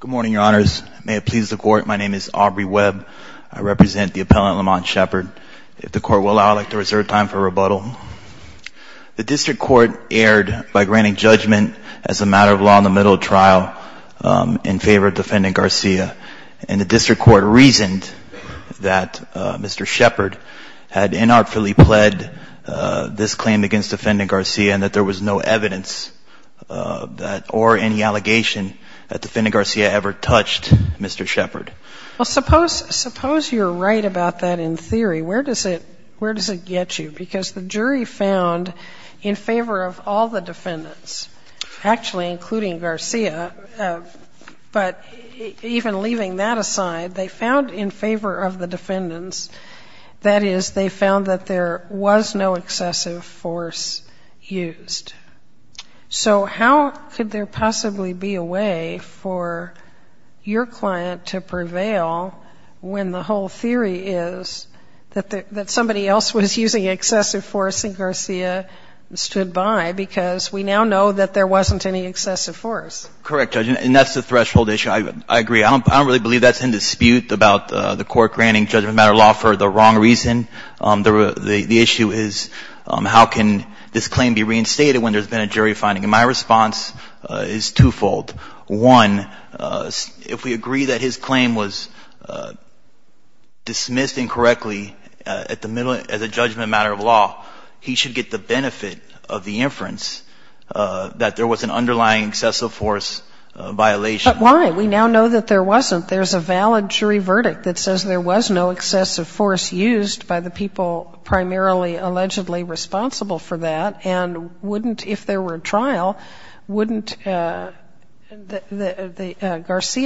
Good morning, your honors. May it please the court, my name is Aubrey Webb. I represent the appellant Lamont Shepard. If the court will allow, I'd like to reserve time for rebuttal. The district court erred by granting judgment as a matter of law in the middle of trial in favor of defendant Garcia. And the district court reasoned that Mr. Shepard had inartfully pled this claim against defendant Garcia and that there was no evidence or any allegation that defendant Garcia ever touched Mr. Shepard. Well, suppose you're right about that in theory. Where does it get you? Because the jury found in favor of all the defendants, actually including Garcia, but even leaving that aside, they found that there was no excessive force used. So how could there possibly be a way for your client to prevail when the whole theory is that somebody else was using excessive force and Garcia stood by because we now know that there wasn't any excessive force? Correct, Judge. And that's the threshold issue. I agree. I don't really believe that's in dispute about the court granting judgment as a matter of law for the wrong reason. The issue is how can this claim be reinstated when there's been a jury finding. And my response is twofold. One, if we agree that his claim was dismissed incorrectly at the middle as a judgment as a matter of law, he should get the benefit of the inference that there was an underlying excessive force violation. But why? We now know that there wasn't. There's a valid jury verdict that says there was no excessive force used by the people primarily allegedly responsible for that. And wouldn't if there were a trial, wouldn't Garcia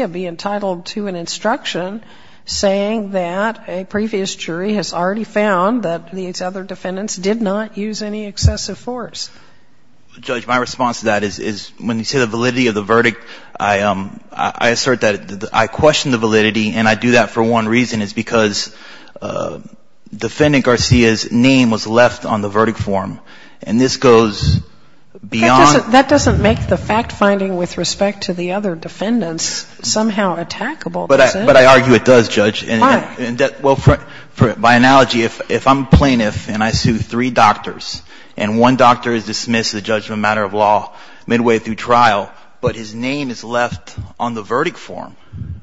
be entitled to an instruction saying that a previous jury has already found that these other defendants did not use any excessive force? Judge, my response to that is when you say the validity of the verdict, I assert that I question the validity. And I do that for one reason. It's because Defendant Garcia's name was left on the verdict form. And this goes beyond That doesn't make the fact-finding with respect to the other defendants somehow attackable. But I argue it does, Judge. Why? Well, by analogy, if I'm a plaintiff and I sue three doctors, and one doctor is dismissed as a judgment as a matter of law midway through trial, but his name is left on the verdict form,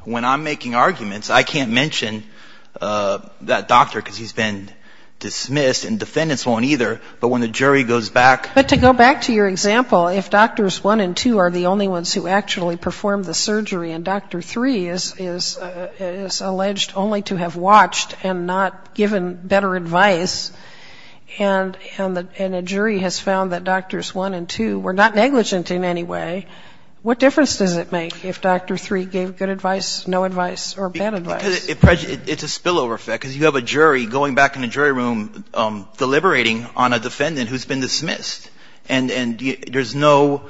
when I'm making arguments, I can't mention that doctor because he's been dismissed, and defendants won't either. But when the jury goes back to the other defendants, I can't mention that doctor because he's been dismissed, and defendants won't either. But to go back to your example, if Doctors I and II are the only ones who actually performed the surgery, and Doctor III is alleged only to have watched and not given better advice, and a jury has found that Doctors I and II were not negligent in any way, what difference does it make if Doctor III gave good advice, no advice, or bad advice? Because it's a spillover effect, because you have a jury going back in the jury room deliberating on a defendant who's been dismissed. And there's no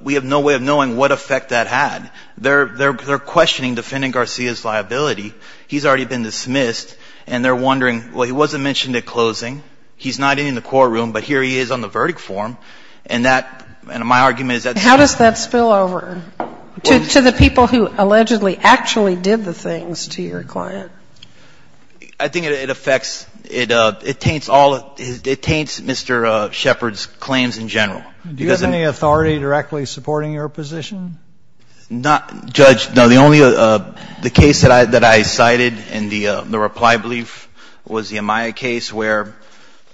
we have no way of knowing what effect that had. They're questioning defendant Garcia's liability. He's already been dismissed, and they're wondering, well, he wasn't mentioned at closing. He's not in the courtroom, but here he is on the verdict form. And that my argument is that's a spillover. How does that spill over to the people who allegedly actually did the things to your client? I think it affects, it taints all, it taints Mr. Shepard's claims in general. Do you have any authority directly supporting your position? Not, Judge, no, the only, the case that I cited in the reply brief was the Amaya case where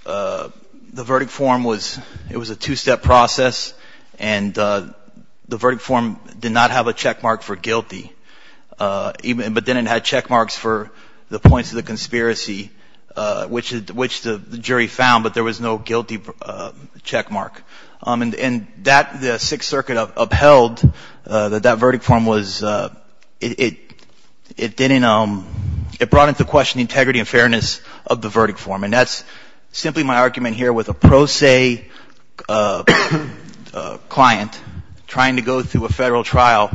the verdict form was, it was a two-step process, and the verdict form did not have a checkmark for guilty, but then it had checkmarks for the points of the conspiracy, which the Sixth Circuit upheld that that verdict form was, it didn't, it brought into question the integrity and fairness of the verdict form. And that's simply my argument here with a pro se client trying to go through a Federal trial,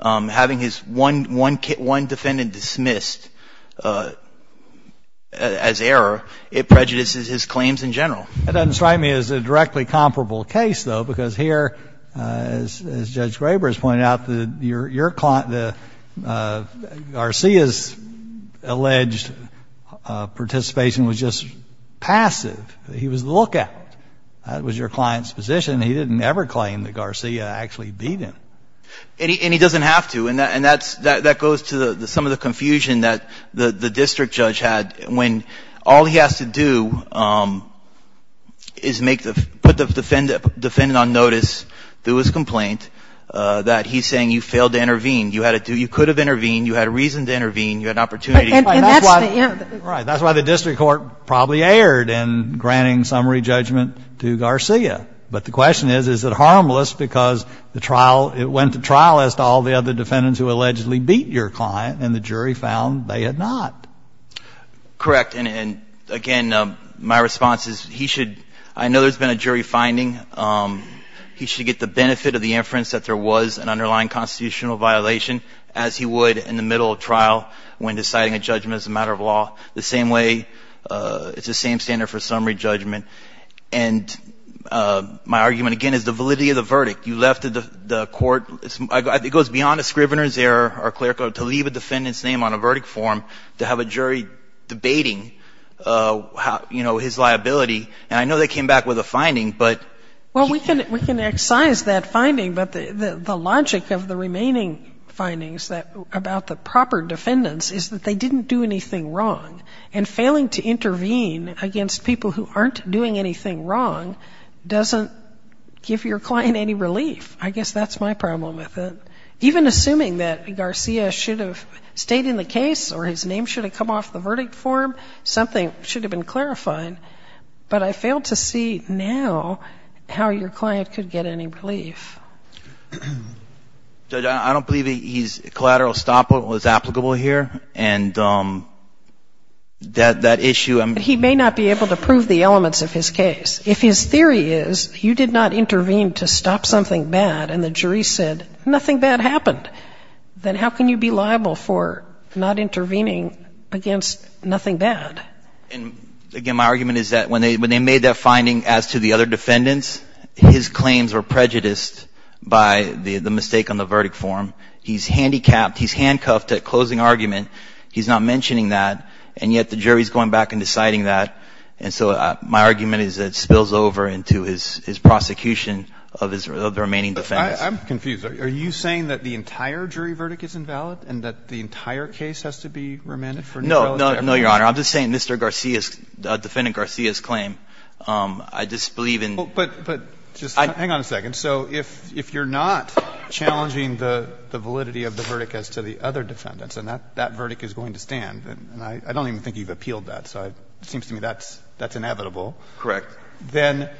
having his one defendant dismissed as error, it prejudices his claims in general. That doesn't strike me as a directly comparable case, though, because here, as Judge Graber has pointed out, your client, Garcia's alleged participation was just passive. He was the lookout. That was your client's position. He didn't ever claim that Garcia actually beat him. And he doesn't have to. And that goes to some of the confusion that the district judge had when all he has to do is make the, put the defendant on notice, do his complaint, that he's saying you failed to intervene. You had to do, you could have intervened, you had a reason to intervene, you had an opportunity to claim. And that's the error. Right. That's why the district court probably erred in granting summary judgment to Garcia. But the question is, is it harmless because the trial, it went to trial as to all the other defendants who allegedly beat your client, and the jury found they had not. Correct. And again, my response is, he should, I know there's been a jury finding. He should get the benefit of the inference that there was an underlying constitutional violation, as he would in the middle of trial when deciding a judgment as a matter of law. The same way, it's the same standard for summary judgment. And my argument, again, is the validity of the verdict. You left the court, it goes beyond a scrivener's error or clerical, to leave a defendant's name on a verdict form, to have a jury debating, you know, his liability. And I know they came back with a finding, but. Well, we can excise that finding, but the logic of the remaining findings about the proper defendants is that they didn't do anything wrong. And failing to intervene against people who aren't doing anything wrong doesn't give your client any relief. I guess that's my problem with it. Even assuming that Garcia should have stayed in the case or his name should have come off the verdict form, something should have been clarifying. But I fail to see now how your client could get any relief. Judge, I don't believe he's collateral stop was applicable here. And that issue. He may not be able to prove the elements of his case. If his theory is, you did not intervene to stop something bad and the jury said nothing bad happened, then how can you be liable for not intervening against nothing bad? Again, my argument is that when they made that finding as to the other defendants, his claims were prejudiced by the mistake on the verdict form. He's handicapped. He's handcuffed at closing argument. He's not mentioning that. And yet the jury is going back and deciding that. And so my argument is that it spills over into his prosecution of the remaining defendants. I'm confused. Are you saying that the entire jury verdict is invalid and that the entire case has to be remanded for neutrality? No. No, Your Honor. I'm just saying Mr. Garcia's, Defendant Garcia's claim, I disbelieve in the verdict. But just hang on a second. So if you're not challenging the validity of the verdict as to the other defendants, and that verdict is going to stand, and I don't even think you've appealed that, so it seems to me that's inevitable. Correct. Then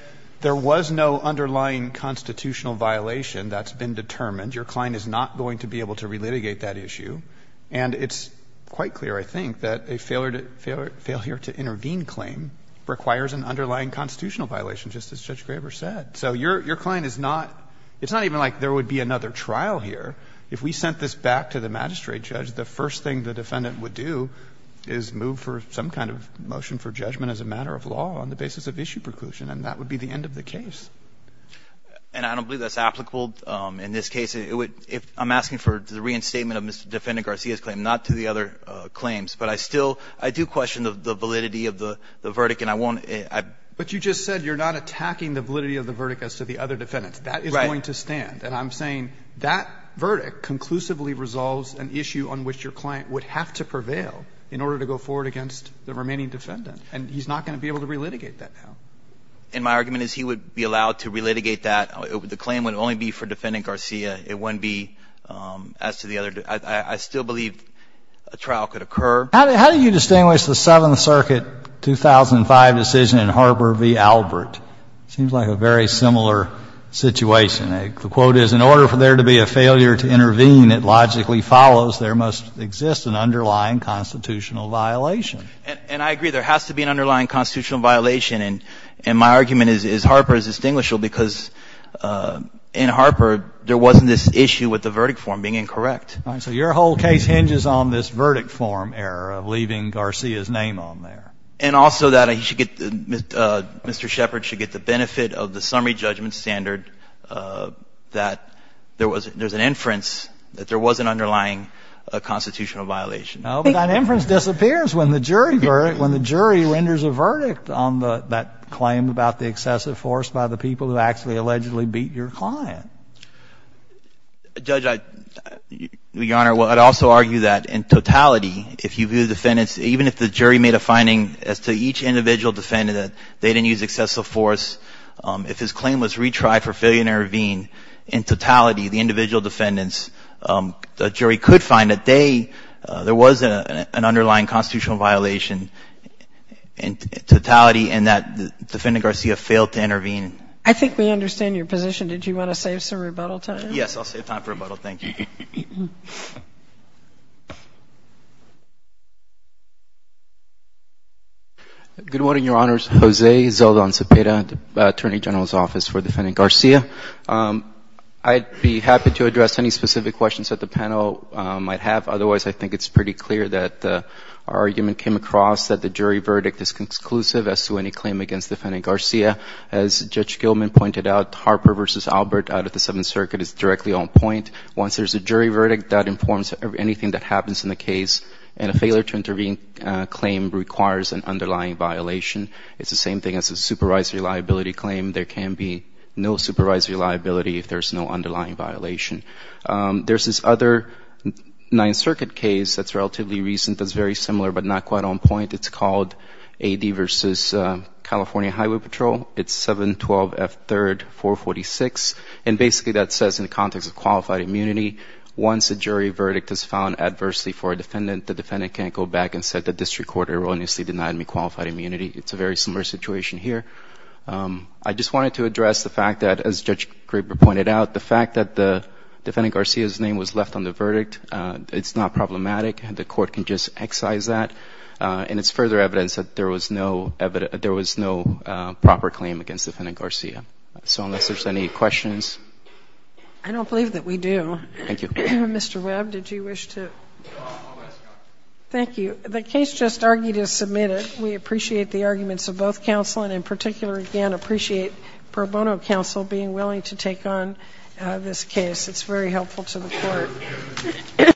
there was no underlying constitutional violation that's been determined. Your client is not going to be able to relitigate that issue. And it's quite clear, I think, that a failure to intervene claim requires an underlying constitutional violation, just as Judge Graber said. So your client is not — it's not even like there would be another trial here. If we sent this back to the magistrate judge, the first thing the defendant would do is move for some kind of motion for judgment as a matter of law on the basis of issue preclusion, and that would be the end of the case. And I don't believe that's applicable in this case. It would — I'm asking for the reinstatement of Mr. Defendant Garcia's claim, not to the other claims. But I still — I do question the validity of the verdict, and I won't — But you just said you're not attacking the validity of the verdict as to the other defendants. Right. That is going to stand. And I'm saying that verdict conclusively resolves an issue on which your client would have to prevail in order to go forward against the remaining defendant. And he's not going to be able to relitigate that now. And my argument is he would be allowed to relitigate that. The claim would only be for Defendant Garcia. It wouldn't be as to the other — I still believe a trial could occur. How do you distinguish the Seventh Circuit 2005 decision in Harper v. Albert? It seems like a very similar situation. The quote is, And I agree. There has to be an underlying constitutional violation. And my argument is Harper is distinguishable because in Harper, there wasn't this issue with the verdict form being incorrect. So your whole case hinges on this verdict form error of leaving Garcia's name on there. And also that he should get — Mr. Shepard should get the benefit of the summary judgment standard that there was — there's an inference that there was an underlying constitutional violation. No, but that inference disappears when the jury — when the jury renders a verdict on the — that claim about the excessive force by the people who actually allegedly beat your client. Judge, I — Your Honor, I'd also argue that in totality, if you view the defendants — even if the jury made a finding as to each individual defendant that they didn't use excessive force, if his claim was retried for failure to intervene, in totality, the individual defendants — the jury could find that they — there was an underlying constitutional violation in totality and that Defendant Garcia failed to intervene. I think we understand your position. Did you want to save some rebuttal time? Yes, I'll save time for rebuttal. Thank you. Good morning, Your Honors. Jose Zeldon Cepeda, Attorney General's Office for Defendant Garcia. I'd be happy to address any specific questions that the panel might have. Otherwise, I think it's pretty clear that our argument came across that the jury verdict is conclusive as to any claim against Defendant Garcia. As Judge Gilman pointed out, Harper v. Albert out of the Seventh Circuit is directly on point. Once there's a jury verdict, that informs anything that happens in the case. And a failure to intervene claim requires an underlying violation. It's the same thing as a supervised reliability claim. There can be no supervised reliability if there's no underlying violation. There's this other Ninth Circuit case that's relatively recent that's very similar but not quite on point. It's called A.D. v. California Highway Patrol. It's 712 F. 3rd. 446. And basically that says in the context of qualified immunity, once a jury verdict is found adversely for a defendant, the defendant can't go back and say the district court erroneously denied me qualified immunity. It's a very similar situation here. I just wanted to address the fact that, as Judge Graber pointed out, the fact that Defendant Garcia's name was left on the verdict, it's not problematic. The court can just excise that. And it's further evidence that there was no proper claim against Defendant Garcia. So unless there's any questions? I don't believe that we do. Thank you. Mr. Webb, did you wish to? Thank you. The case just argued is submitted. We appreciate the arguments of both counsel and in particular, again, appreciate Pro Bono counsel being willing to take on this case. It's very helpful to the court.